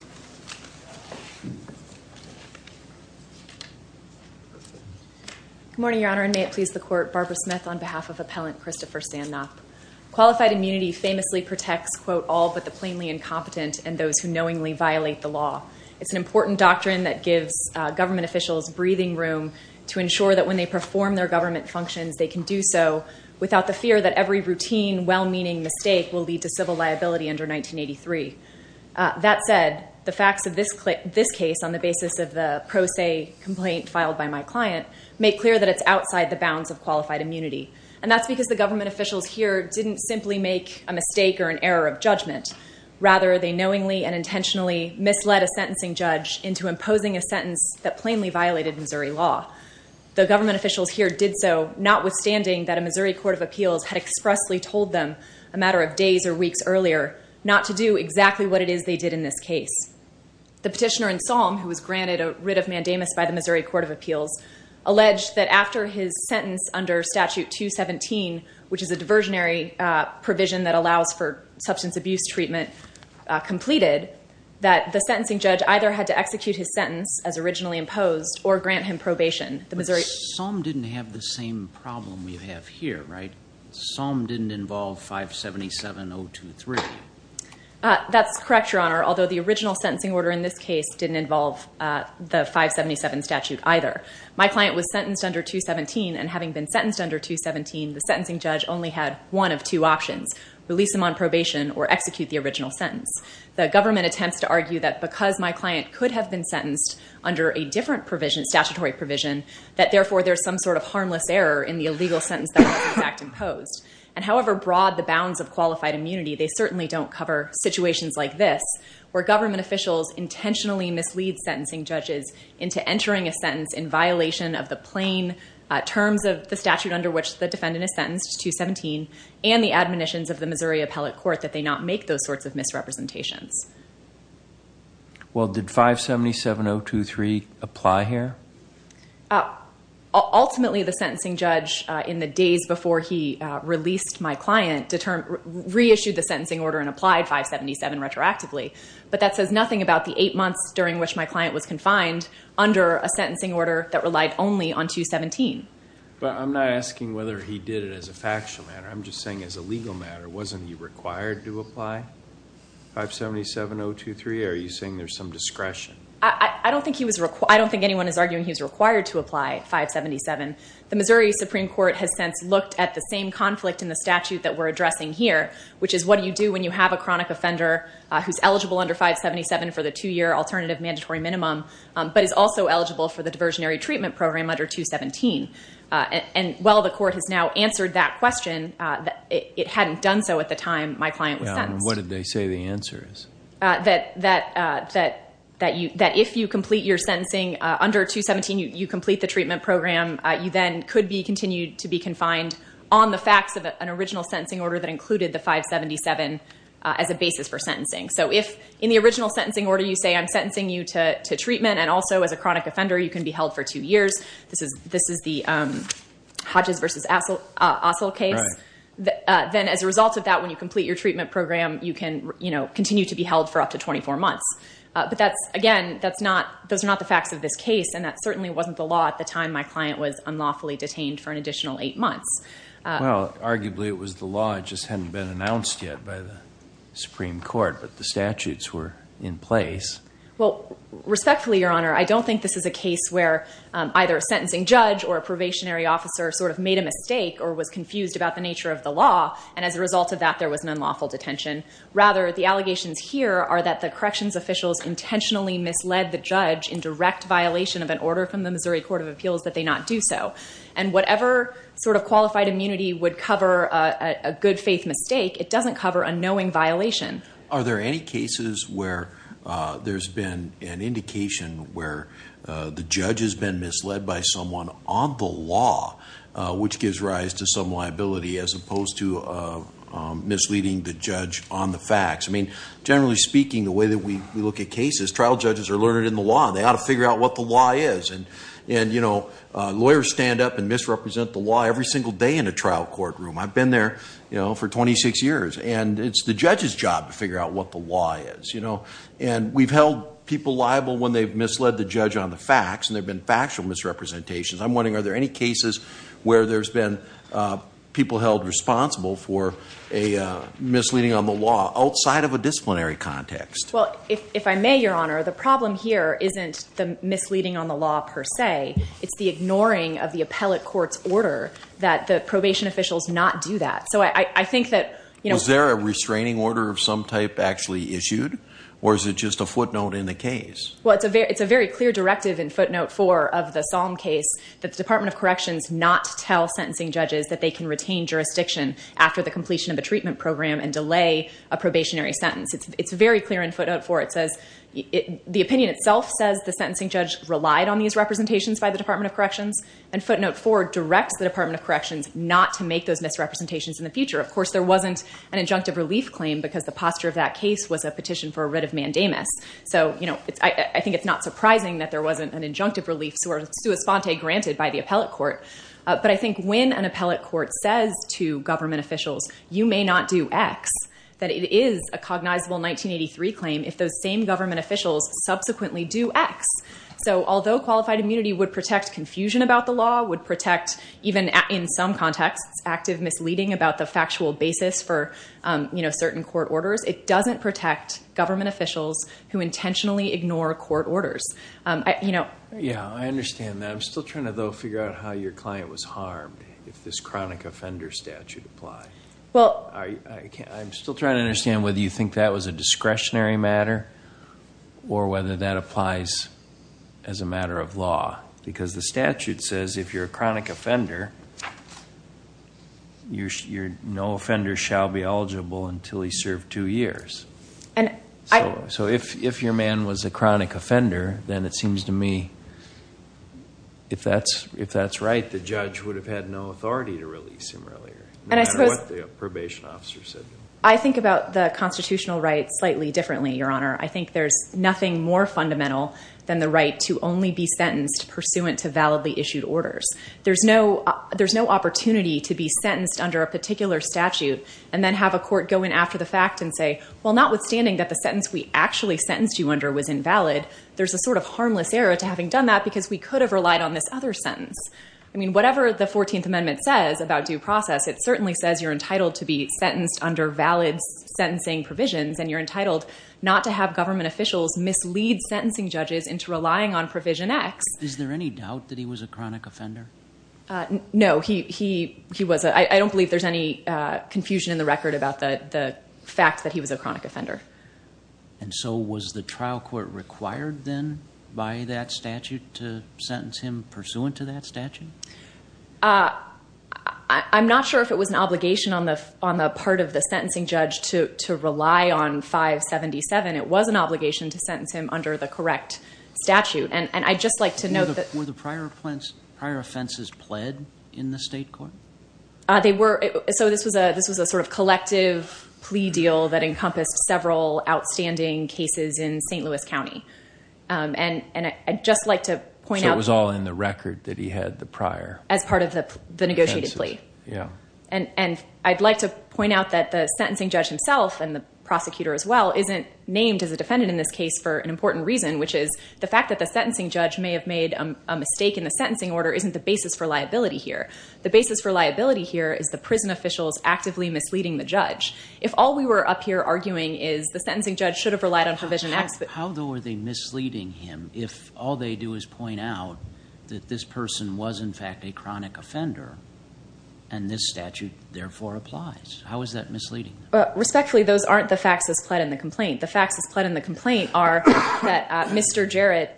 Good morning, Your Honor, and may it please the Court, Barbara Smith on behalf of Appellant Christopher Sandknop. Qualified immunity famously protects, quote, all but the plainly incompetent and those who knowingly violate the law. It's an important doctrine that gives government officials breathing room to ensure that when they perform their government functions, they can do so without the fear that every routine, well-meaning mistake will lead to civil liability under 1983. That said, the facts of this case on the basis of the pro se complaint filed by my client make clear that it's outside the bounds of qualified immunity. And that's because the government officials here didn't simply make a mistake or an error of judgment. Rather, they knowingly and intentionally misled a sentencing judge into imposing a sentence that plainly violated Missouri law. The government officials here did so notwithstanding that the Missouri Court of Appeals had expressly told them a matter of days or weeks earlier not to do exactly what it is they did in this case. The petitioner in SOM, who was granted a writ of mandamus by the Missouri Court of Appeals, alleged that after his sentence under Statute 217, which is a diversionary provision that allows for substance abuse treatment completed, that the sentencing judge either had to execute his sentence as originally imposed or grant him probation. The Missouri- SOM didn't have the same problem we have here, right? SOM didn't involve 577.023. That's correct, Your Honor, although the original sentencing order in this case didn't involve the 577 statute either. My client was sentenced under 217, and having been sentenced under 217, the sentencing judge only had one of two options, release him on probation or execute the original sentence. The government attempts to argue that because my client could have been sentenced under a different provision, statutory provision, that therefore there's some sort of harmless error in the illegal sentence that was imposed. And however broad the bounds of qualified immunity, they certainly don't cover situations like this, where government officials intentionally mislead sentencing judges into entering a sentence in violation of the plain terms of the statute under which the defendant is sentenced, 217, and the admonitions of the Missouri Appellate Court that they not make those sorts of misrepresentations. Well, did 577.023 apply here? Ultimately, the sentencing judge, in the days before he released my client, reissued the sentencing order and applied 577 retroactively. But that says nothing about the eight months during which my client was confined under a sentencing order that relied only on 217. But I'm not asking whether he did it as a factual matter. I'm just saying as a legal 577.023, are you saying there's some discretion? I don't think anyone is arguing he was required to apply 577. The Missouri Supreme Court has since looked at the same conflict in the statute that we're addressing here, which is what do you do when you have a chronic offender who's eligible under 577 for the two-year alternative mandatory minimum, but is also eligible for the diversionary treatment program under 217. And while the court has now answered that question, it hadn't done so at the time my client was sentenced. What did they say the answer is? That if you complete your sentencing under 217, you complete the treatment program, you then could be continued to be confined on the facts of an original sentencing order that included the 577 as a basis for sentencing. So if in the original sentencing order you say I'm sentencing you to treatment and also as a chronic offender, you can be held for two years, this is the Hodges versus Ossel case, then as a result of that, when you complete your treatment program, you can continue to be held for up to 24 months. But again, those are not the facts of this case and that certainly wasn't the law at the time my client was unlawfully detained for an additional eight months. Well, arguably it was the law, it just hadn't been announced yet by the Supreme Court, but the statutes were in place. Well, respectfully, Your Honor, I don't think this is a case where either a sentencing judge or a probationary officer sort of made a mistake or was confused about the nature of the law and as a result of that, there was an unlawful detention. Rather, the allegations here are that the corrections officials intentionally misled the judge in direct violation of an order from the Missouri Court of Appeals that they not do so. And whatever sort of qualified immunity would cover a good faith mistake, it doesn't cover a knowing violation. Are there any cases where there's been an indication where the judge has been misled by someone on the law, which gives rise to some liability as opposed to misleading the judge on the facts? I mean, generally speaking, the way that we look at cases, trial judges are learned in the law and they ought to figure out what the law is. And lawyers stand up and misrepresent the law every single day in a trial courtroom. I've been there for 26 years and it's the judge's job to figure out what the law is. And we've held people liable when they've made factual misrepresentations. I'm wondering, are there any cases where there's been people held responsible for a misleading on the law outside of a disciplinary context? Well, if I may, Your Honor, the problem here isn't the misleading on the law per se. It's the ignoring of the appellate court's order that the probation officials not do that. So I think that, you know... Is there a restraining order of some type actually issued? Or is it just a footnote in the case? Well, it's a very clear directive in footnote four of the Salm case that the Department of Corrections not tell sentencing judges that they can retain jurisdiction after the completion of a treatment program and delay a probationary sentence. It's very clear in footnote four. The opinion itself says the sentencing judge relied on these representations by the Department of Corrections. And footnote four directs the Department of Corrections not to make those misrepresentations in the future. Of course, there wasn't an injunctive relief claim because the posture of that case was a petition for a writ of mandamus. So, you know, I think it's not surprising that there wasn't an injunctive relief sui sponte granted by the appellate court. But I think when an appellate court says to government officials, you may not do X, that it is a cognizable 1983 claim if those same government officials subsequently do X. So although qualified immunity would protect confusion about the law, would protect even in some contexts, active misleading about the factual basis for, you know, certain court orders, it doesn't protect government officials who intentionally ignore court orders. Yeah, I understand that. I'm still trying to, though, figure out how your client was harmed if this chronic offender statute applies. I'm still trying to understand whether you think that was a discretionary matter or whether that applies as a matter of law. Because the statute says, no offender shall be eligible until he served two years. So if your man was a chronic offender, then it seems to me, if that's right, the judge would have had no authority to release him earlier, no matter what the probation officer said. I think about the constitutional right slightly differently, Your Honor. I think there's nothing more fundamental than the right to only be sentenced pursuant to validly issued orders. There's no opportunity to be sentenced under a particular statute and then have a court go in after the fact and say, well, notwithstanding that the sentence we actually sentenced you under was invalid, there's a sort of harmless error to having done that because we could have relied on this other sentence. I mean, whatever the 14th Amendment says about due process, it certainly says you're entitled to be sentenced under valid sentencing provisions and you're entitled not to have government officials mislead sentencing judges into relying on provision X. Is there any doubt that he was a chronic offender? No, he wasn't. I don't believe there's any confusion in the record about the fact that he was a chronic offender. And so was the trial court required then by that statute to sentence him pursuant to that statute? I'm not sure if it was an obligation on the part of the sentencing judge to rely on 577. It was an obligation to sentence him under the correct statute. And I'd just like to note that... Were the prior offenses pled in the state court? So this was a sort of collective plea deal that encompassed several outstanding cases in St. Louis County. And I'd just like to point out... So it was all in the record that he had the prior... As part of the negotiated plea. And I'd like to point out that the sentencing judge himself and the prosecutor as well isn't named as a defendant in this case for an important reason, which is the fact that the sentencing judge may have made a mistake in the sentencing order isn't the basis for liability here. The basis for liability here is the prison officials actively misleading the judge. If all we were up here arguing is the sentencing judge should have relied on provision X... How though are they misleading him if all they do is point out that this person was in fact a chronic offender and this statute therefore applies? How is that misleading? Respectfully, those aren't the facts that's pled in the complaint. The facts that's pled in the complaint are that Mr. Jarrett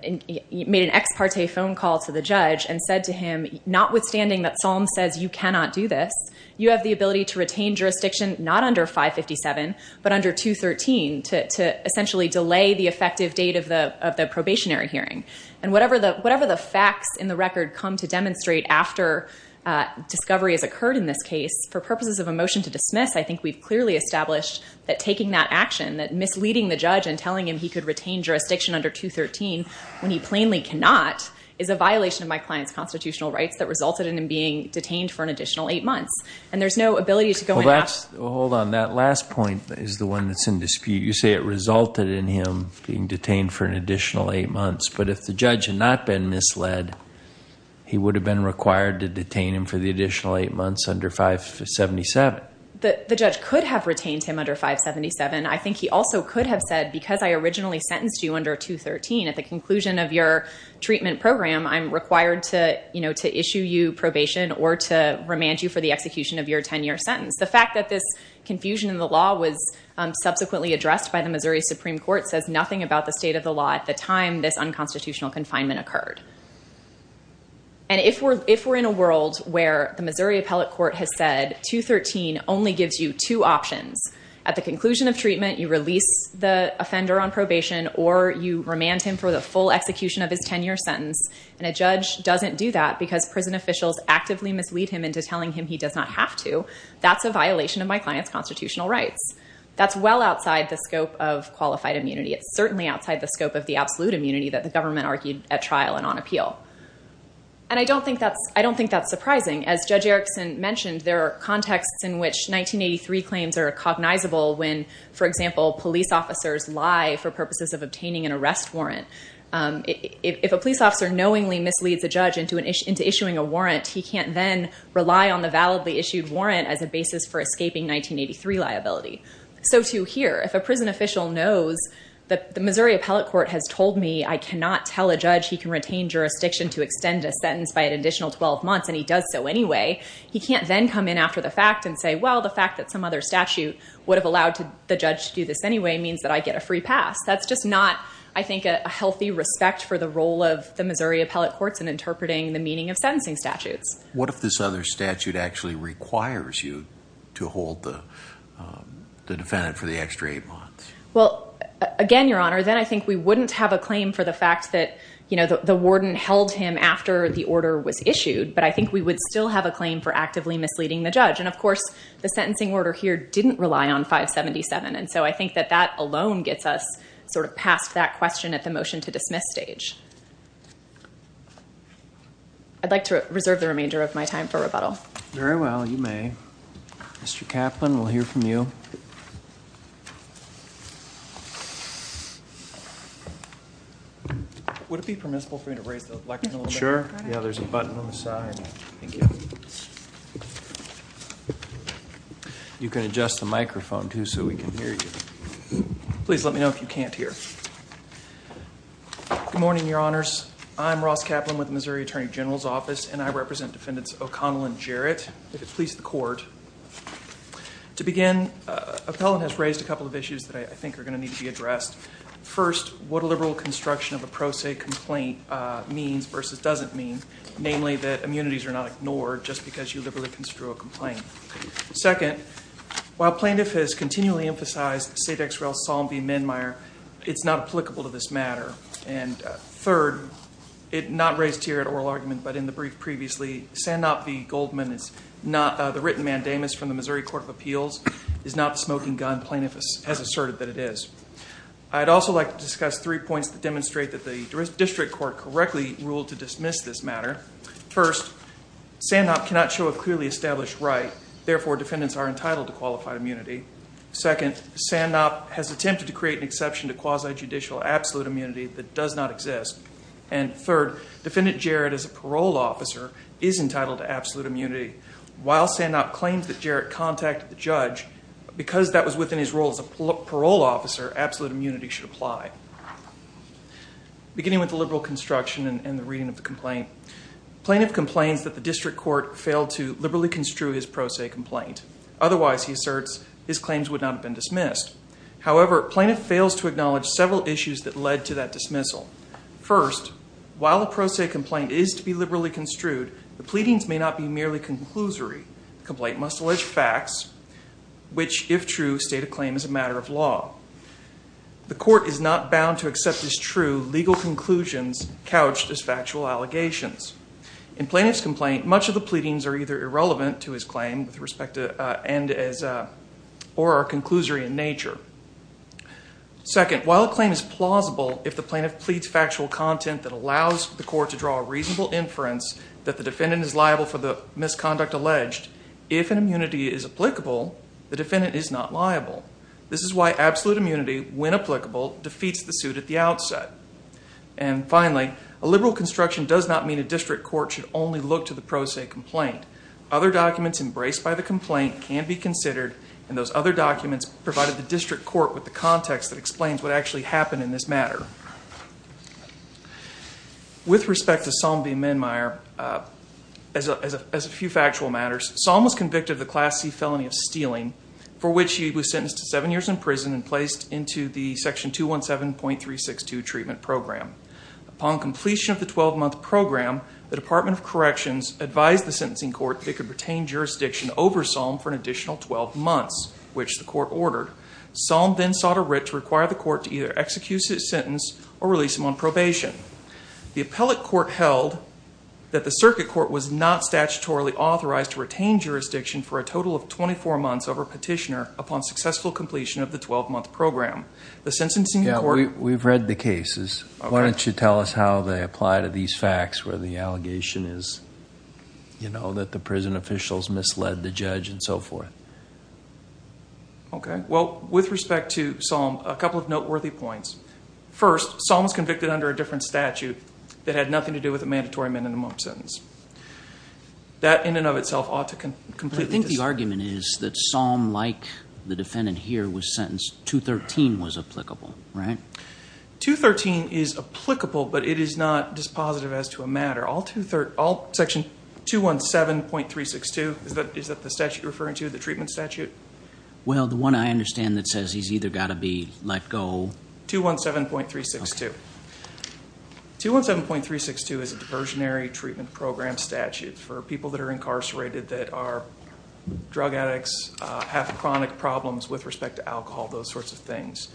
made an ex parte phone call to the judge and said to him, notwithstanding that Psalm says you cannot do this, you have the ability to retain jurisdiction not under 557, but under 213 to essentially delay the effective date of the probationary hearing. And whatever the facts in the record come to demonstrate after discovery has occurred in this case, for purposes of a motion to dismiss, I think we've clearly established that taking that action, that misleading the judge and telling him he could retain jurisdiction under 213 when he plainly cannot, is a violation of my client's constitutional rights that resulted in him being detained for an additional eight months. And there's no ability to go in and ask... Well, hold on. That last point is the one that's in dispute. You say it resulted in him being detained for an additional eight months, but if the judge had not been misled, he would have been required to detain him for the additional eight months under 577. The judge could have retained him under 577. I think he also could have said, because I originally sentenced you under 213, at the conclusion of your treatment program, I'm required to issue you probation or to remand you for the execution of your 10-year sentence. The fact that this confusion in the law was subsequently addressed by the Missouri Supreme Court says nothing about the state of the law at the time this unconstitutional confinement occurred. And if we're in a world where the Missouri Appellate Court has said 213 only gives you two options, at the conclusion of treatment, you release the offender on probation or you remand him for the full execution of his 10-year sentence, and a judge doesn't do that because prison officials actively mislead him into telling him he does not have to, that's a violation of my client's constitutional rights. That's well outside the scope of qualified immunity. It's certainly outside the scope of the absolute immunity that the government argued at trial and on appeal. And I don't think that's surprising. As Judge Erickson mentioned, there are contexts in which 1983 claims are cognizable when, for example, police officers lie for purposes of obtaining an arrest warrant. If a police officer knowingly misleads a judge into issuing a warrant, he can't then rely on the validly issued warrant as a basis for escaping 1983 liability. So too here. If a prison official knows that the Missouri Appellate Court has told me I cannot tell a judge he can retain jurisdiction to extend a sentence by an additional 12 months and he does so anyway, he can't then come in after the fact and say, well, the fact that some other statute would have allowed the judge to do this anyway means that I get a free pass. That's just not, I think, a healthy respect for the role of the Missouri Appellate Courts in interpreting the meaning of sentencing statutes. What if this other statute actually requires you to hold the defendant for the extra eight months? Well, again, Your Honor, then I think we wouldn't have a claim for the fact that the warden held him after the order was issued, but I think we would still have a claim for actively misleading the judge. And of course, the sentencing order here didn't rely on 577. And so I think that that alone gets us sort of past that question at the motion to dismiss stage. I'd like to reserve the remainder of my time for rebuttal. Very well. You may. Mr. Kaplan, we'll hear from you. Would it be permissible for me to raise the microphone a little bit? Sure. Yeah, there's a button on the side. Thank you. You can adjust the microphone, too, so we can hear you. Please let me know if you can't hear. Good morning, Your Honors. I'm Ross Kaplan with the Missouri Attorney General's Office, and I represent Defendant O'Connell and Jarrett, if it pleases the Court. To begin, Appellant has raised a couple of issues that I think are going to need to be addressed. First, what a liberal construction of a pro se complaint means versus doesn't mean, namely that immunities are not ignored just because you liberally construe a complaint. Second, while Plaintiff has continually emphasized Sedexrel, Salm, v. Minmeyer, it's not applicable to this matter. And third, not raised here at oral argument, but in the brief previously, Sanop v. Goldman is not the written mandamus from the Missouri Court of Appeals, is not the smoking gun Plaintiff has asserted that it is. I'd also like to discuss three points that demonstrate that the District Court correctly ruled to dismiss this matter. First, Sanop cannot show a clearly established right. Therefore, defendants are entitled to qualified immunity. Second, Sanop has attempted to create an exception to quasi-judicial absolute immunity that does not exist. And third, Defendant Jarrett, as a parole officer, is entitled to absolute immunity. While Sanop claims that Jarrett contacted the judge, because that was within his role as a parole officer, absolute immunity should apply. Beginning with the liberal construction and the reading of the complaint, Plaintiff complains that the District Court failed to liberally construe his pro se complaint. Otherwise, he asserts, his claims would not have been dismissed. However, Plaintiff fails to acknowledge several issues that led to that dismissal. First, while the pro se complaint is to be liberally construed, the pleadings may not be merely conclusory. Complaint must allege facts, which, if true, state a claim as a matter of law. The court is not bound to accept as true legal conclusions couched as factual allegations. In Plaintiff's complaint, much of the pleadings are either irrelevant to his claim with respect to, and as, or are conclusory in nature. Second, while a claim is plausible if the plaintiff pleads factual content that allows the court to draw a reasonable inference that the defendant is liable for the misconduct alleged, if an immunity is applicable, the defendant is not liable. This is why absolute immunity, when applicable, defeats the suit at the outset. And finally, a liberal construction does not mean a District Court should only look to the pro se complaint. Other documents embraced by the complaint can be considered, and those other documents provided the District Court with the context that explains what actually happened in this matter. With respect to Salm B. Menmeyer, as a few factual matters, Salm was convicted of the Class C felony of stealing, for which he was sentenced to seven years in prison and placed into the Section 217.362 treatment program. Upon completion of the 12-month program, the Department of Corrections advised the sentencing court that it could retain jurisdiction over Salm for an additional 12 months, which the court ordered. Salm then sought a writ to require the court to either execute his sentence or release him on probation. The appellate court held that the circuit court was not statutorily authorized to retain jurisdiction for a total of 24 months over petitioner upon successful completion of the 12-month program. The sentencing court... Yeah, we've read the cases. Okay. Why don't you tell us how they apply to these facts where the allegation is, you know, that the prison officials misled the judge and so forth? Okay. Well, with respect to Salm, a couple of noteworthy points. First, Salm was convicted under a different statute that had nothing to do with a mandatory minimum sentence. That in and of itself ought to completely... I think the argument is that Salm, like the defendant here, was sentenced... 213 was applicable, right? 213 is applicable, but it is not dispositive as to a matter. Section 217.362, is that the statute you're referring to, the treatment statute? Well, the one I understand that says he's either got to be let go... 217.362. Okay. 217.362 is a diversionary treatment program statute for people that are incarcerated that are drug addicts, have chronic problems with respect to alcohol, those sorts of things.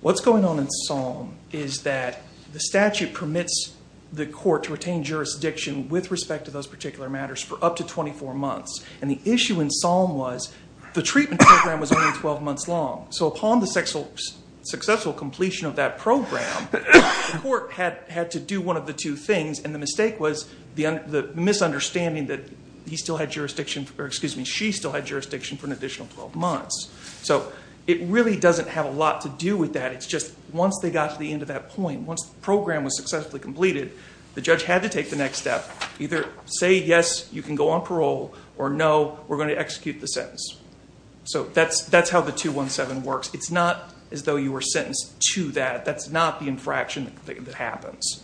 What's going on in Salm is that the statute permits the court to retain jurisdiction with respect to those particular matters for up to 24 months. And the issue in Salm was the treatment program was only 12 months long. So upon the successful completion of that program, the court had to do one of the two things and the mistake was the misunderstanding that he still had jurisdiction... or excuse me, she still had jurisdiction for an additional 12 months. So it really doesn't have a lot to do with that. It's just once they got to the end of that point, once the program was successfully completed, the judge had to take the next step, either say yes, you can go on parole, or no, we're going to execute the sentence. So that's how the 217 works. It's not as though you were sentenced to that. That's not the infraction that happens.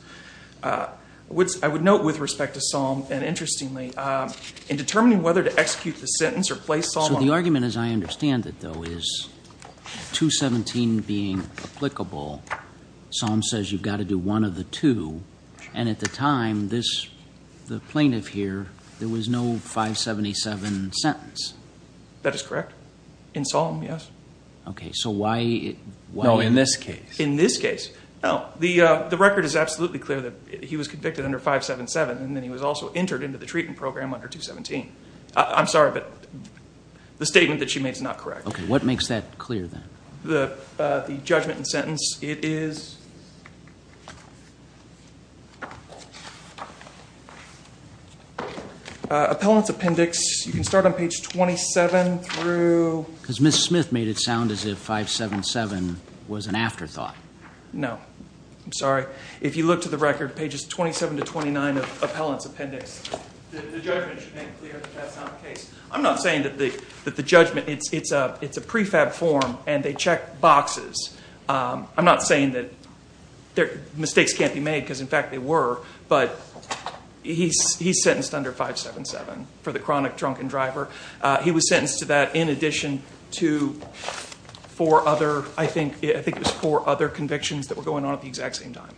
I would note with respect to Salm, and interestingly, in determining whether to execute the sentence or place Salm... What I'm interested in, though, is 217 being applicable, Salm says you've got to do one of the two, and at the time, the plaintiff here, there was no 577 sentence. That is correct. In Salm, yes. Okay. So why... No, in this case. In this case. No. The record is absolutely clear that he was convicted under 577, and then he was also entered into the treatment program under 217. I'm sorry, but the statement that she made is not correct. Okay. What makes that clear, then? The judgment and sentence. It is... Appellant's appendix. You can start on page 27 through... Because Ms. Smith made it sound as if 577 was an afterthought. No. I'm sorry. If you look to the record, pages 27 to 29 of Appellant's appendix... The judgment should make it clear that that's not the case. I'm not saying that the judgment... It's a prefab form, and they check boxes. I'm not saying that mistakes can't be made, because in fact, they were, but he's sentenced under 577 for the chronic drunken driver. He was sentenced to that in addition to four other... I think it was four other convictions that were going on at the exact same time.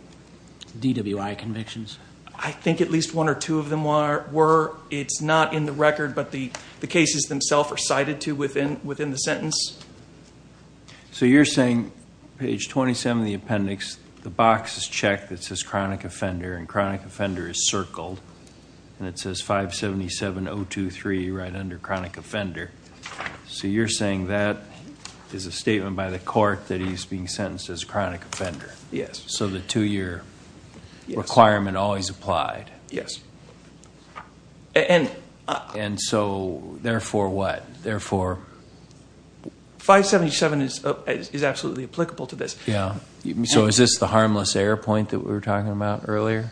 DWI convictions? I think at least one or two of them were. It's not in the record, but the cases themselves are cited to within the sentence. You're saying, page 27 of the appendix, the box is checked that says chronic offender, and chronic offender is circled, and it says 577.023 right under chronic offender. You're saying that is a statement by the court that he's being sentenced as chronic offender? Yes. So the two-year requirement always applied? Yes. And so, therefore what? Therefore... 577 is absolutely applicable to this. Yeah. So is this the harmless error point that we were talking about earlier?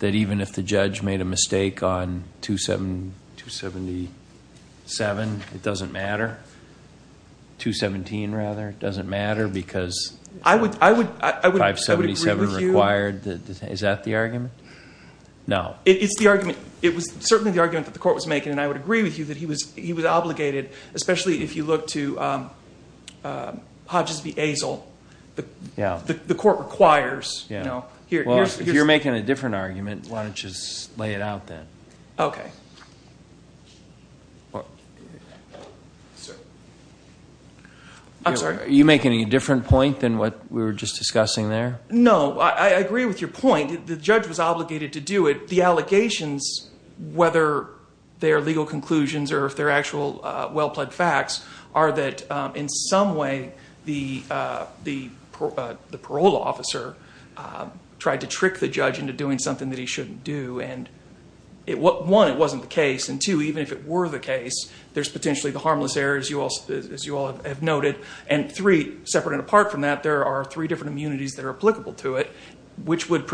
That even if the judge made a mistake on 277, it doesn't matter? 217, rather, it doesn't matter because... I would agree with you... 577 required, is that the argument? No. It's the argument. It was certainly the argument that the court was making, and I would agree with you that he was obligated, especially if you look to Hodges v. Azel. The court requires... Well, if you're making a different argument, why don't you just lay it out, then? Okay. I'm sorry? You're making a different point than what we were just discussing there? No. I agree with your point. The judge was obligated to do it. The allegations, whether they're legal conclusions or if they're actual well-pled facts, are that in some way, the parole officer tried to trick the judge into doing something that he shouldn't do, and one, it wasn't the case, and two, even if it were the case, there's And three, separate and apart from that, there are three different immunities that are applicable to it, which would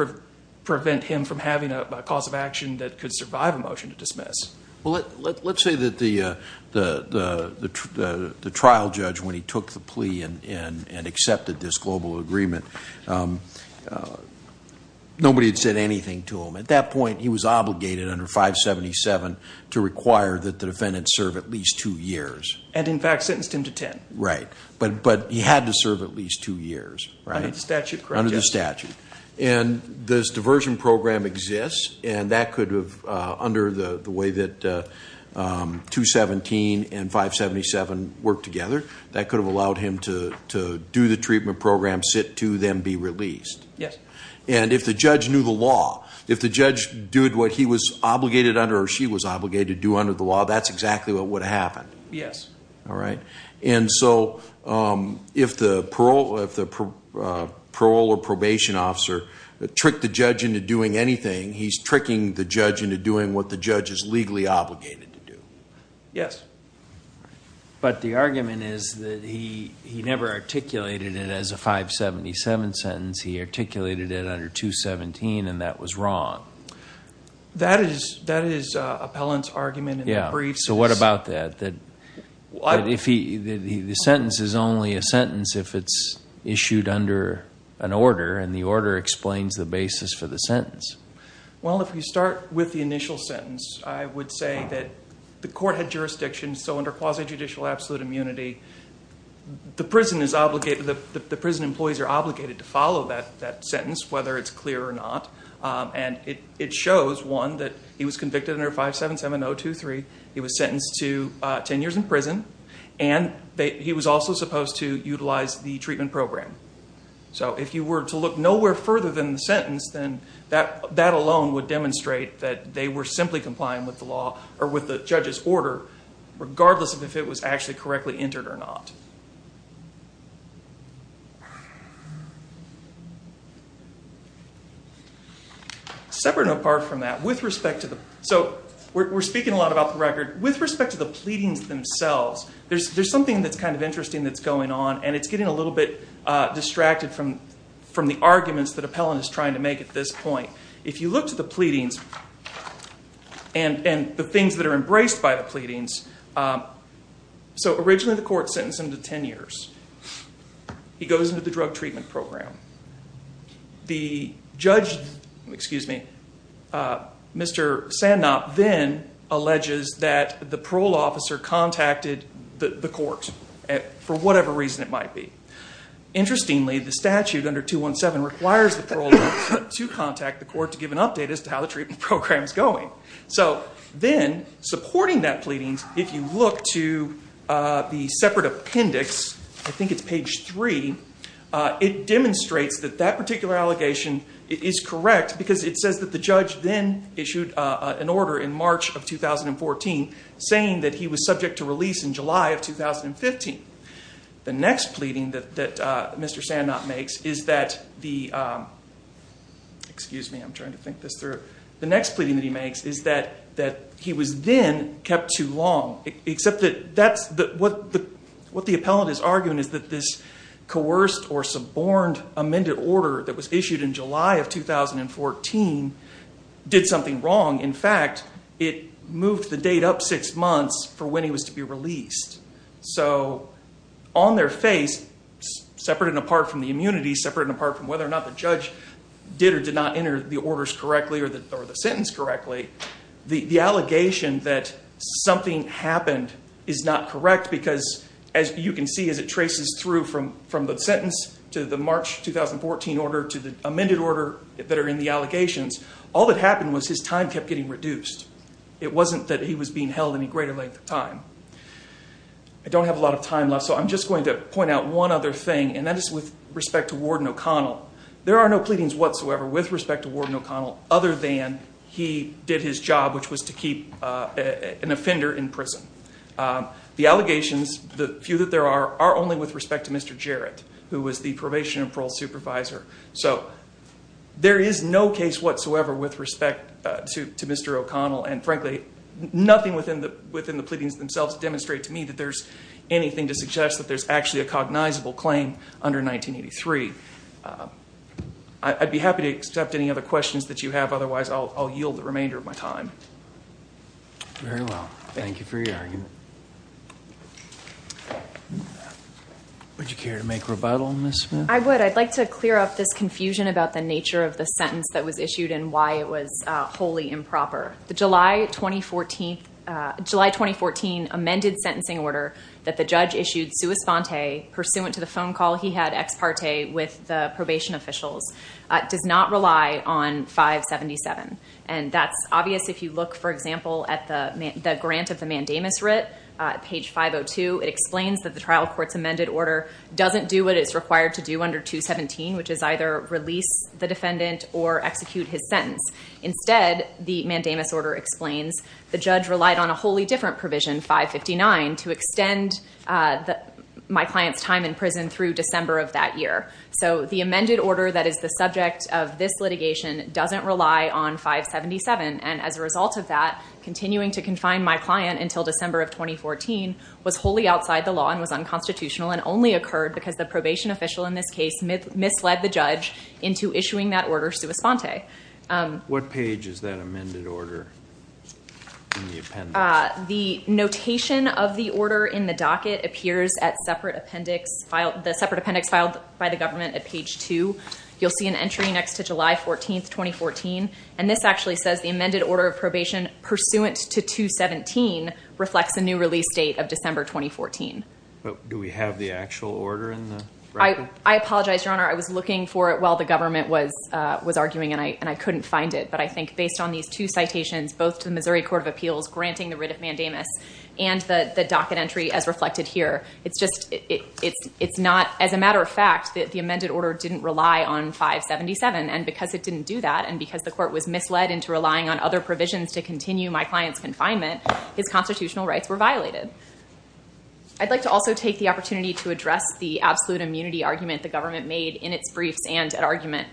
prevent him from having a cause of action that could survive a motion to dismiss. Let's say that the trial judge, when he took the plea and accepted this global agreement, nobody had said anything to him. At that point, he was obligated under 577 to require that the defendant serve at least two years. And, in fact, sentenced him to ten. Right. But he had to serve at least two years, right? Under the statute, correct. Under the statute. And this diversion program exists, and that could have, under the way that 217 and 577 worked together, that could have allowed him to do the treatment program, sit to them, be released. Yes. And if the judge knew the law, if the judge did what he was obligated under or she was obligated to do under the law, that's exactly what would have happened. Yes. All right? And so, if the parole or probation officer tricked the judge into doing anything, he's tricking the judge into doing what the judge is legally obligated to do. Yes. But the argument is that he never articulated it as a 577 sentence. He articulated it under 217, and that was wrong. That is Appellant's argument in the briefs. So what about that, that the sentence is only a sentence if it's issued under an order and the order explains the basis for the sentence? Well, if we start with the initial sentence, I would say that the court had jurisdiction, so under quasi-judicial absolute immunity, the prison employees are obligated to follow that sentence, whether it's clear or not. And it shows, one, that he was convicted under 577-023. He was sentenced to 10 years in prison, and he was also supposed to utilize the treatment program. So if you were to look nowhere further than the sentence, then that alone would demonstrate that they were simply complying with the law, or with the judge's order, regardless of if it was actually correctly entered or not. Separate and apart from that, with respect to the... So we're speaking a lot about the record. With respect to the pleadings themselves, there's something that's kind of interesting that's going on, and it's getting a little bit distracted from the arguments that Appellant is trying to make at this point. If you look to the pleadings and the things that are embraced by the pleadings... So originally the court sentenced him to 10 years. He goes into the drug treatment program. The judge, excuse me, Mr. Sandknapp, then alleges that the parole officer contacted the court for whatever reason it might be. Interestingly, the statute under 217 requires the parole officer to contact the court to give an update as to how the treatment program is going. So then, supporting that pleading, if you look to the separate appendix, I think it's page three, it demonstrates that that particular allegation is correct, because it says that the judge then issued an order in March of 2014 saying that he was subject to release in July of 2015. The next pleading that Mr. Sandknapp makes is that the... Excuse me, I'm trying to think this through. The next pleading that he makes is that he was then kept too long, except that what the appellant is arguing is that this coerced or suborned amended order that was issued in July of 2014 did something wrong. In fact, it moved the date up six months for when he was to be released. So on their face, separate and apart from the immunity, separate and apart from whether or not the judge did or did not enter the orders correctly or the sentence correctly, the allegation that something happened is not correct, because as you can see as it traces through from the sentence to the March 2014 order to the amended order that are in the allegations, all that happened was his time kept getting reduced. It wasn't that he was being held any greater length of time. I don't have a lot of time left, so I'm just going to point out one other thing, and that is with respect to Warden O'Connell, there are no pleadings whatsoever with respect to Warden O'Connell other than he did his job, which was to keep an offender in prison. The allegations, the few that there are, are only with respect to Mr. Jarrett, who was the probation and parole supervisor. So there is no case whatsoever with respect to Mr. O'Connell, and frankly, nothing within the pleadings themselves demonstrate to me that there's anything to suggest that there's actually a cognizable claim under 1983. I'd be happy to accept any other questions that you have, otherwise I'll yield the remainder of my time. Very well. Thank you for your argument. Would you care to make rebuttal on this, ma'am? I would. I'd like to clear up this confusion about the nature of the sentence that was issued and why it was wholly improper. The July 2014 amended sentencing order that the judge issued sua sponte, pursuant to the phone call he had ex parte with the probation officials, does not rely on 577. And that's obvious if you look, for example, at the grant of the mandamus writ, page 502. It explains that the trial court's amended order doesn't do what it's required to do under 217, which is either release the defendant or execute his sentence. Instead, the mandamus order explains the judge relied on a wholly different provision, 559, to extend my client's time in prison through December of that year. So the amended order that is the subject of this litigation doesn't rely on 577. And as a result of that, continuing to confine my client until December of 2014 was wholly outside the law and was unconstitutional and only occurred because the probation official in this case misled the judge into issuing that order sua sponte. What page is that amended order in the appendix? The notation of the order in the docket appears at separate appendix, the separate appendix filed by the government at page 2. You'll see an entry next to July 14, 2014. And this actually says the amended order of probation pursuant to 217 reflects a new release date of December 2014. Do we have the actual order in the record? I apologize, Your Honor. I was looking for it while the government was arguing, and I couldn't find it. But I think based on these two citations, both to the Missouri Court of Appeals granting the writ of mandamus and the docket entry as reflected here, it's just it's not, as a matter of fact, that the amended order didn't rely on 577. And because it didn't do that, and because the court was misled into relying on other provisions to continue my client's confinement, his constitutional rights were violated. I'd like to also take the opportunity to address the absolute immunity argument the government made in its briefs and at argument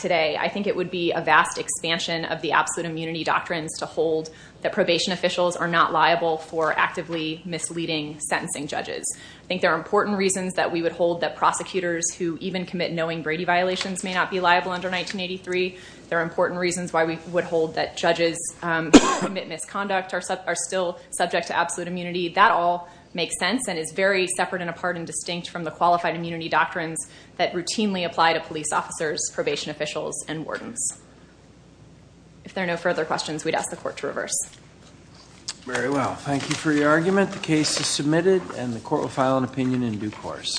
today. I think it would be a vast expansion of the absolute immunity doctrines to hold that probation officials are not liable for actively misleading sentencing judges. I think there are important reasons that we would hold that prosecutors who even commit knowing Brady violations may not be liable under 1983. There are important reasons why we would hold that judges who commit misconduct are still subject to absolute immunity. That all makes sense and is very separate and apart and distinct from the qualified immunity doctrines that routinely apply to police officers, probation officials, and wardens. If there are no further questions, we'd ask the court to reverse. Very well. Thank you for your argument. The case is submitted, and the court will file an opinion in due course.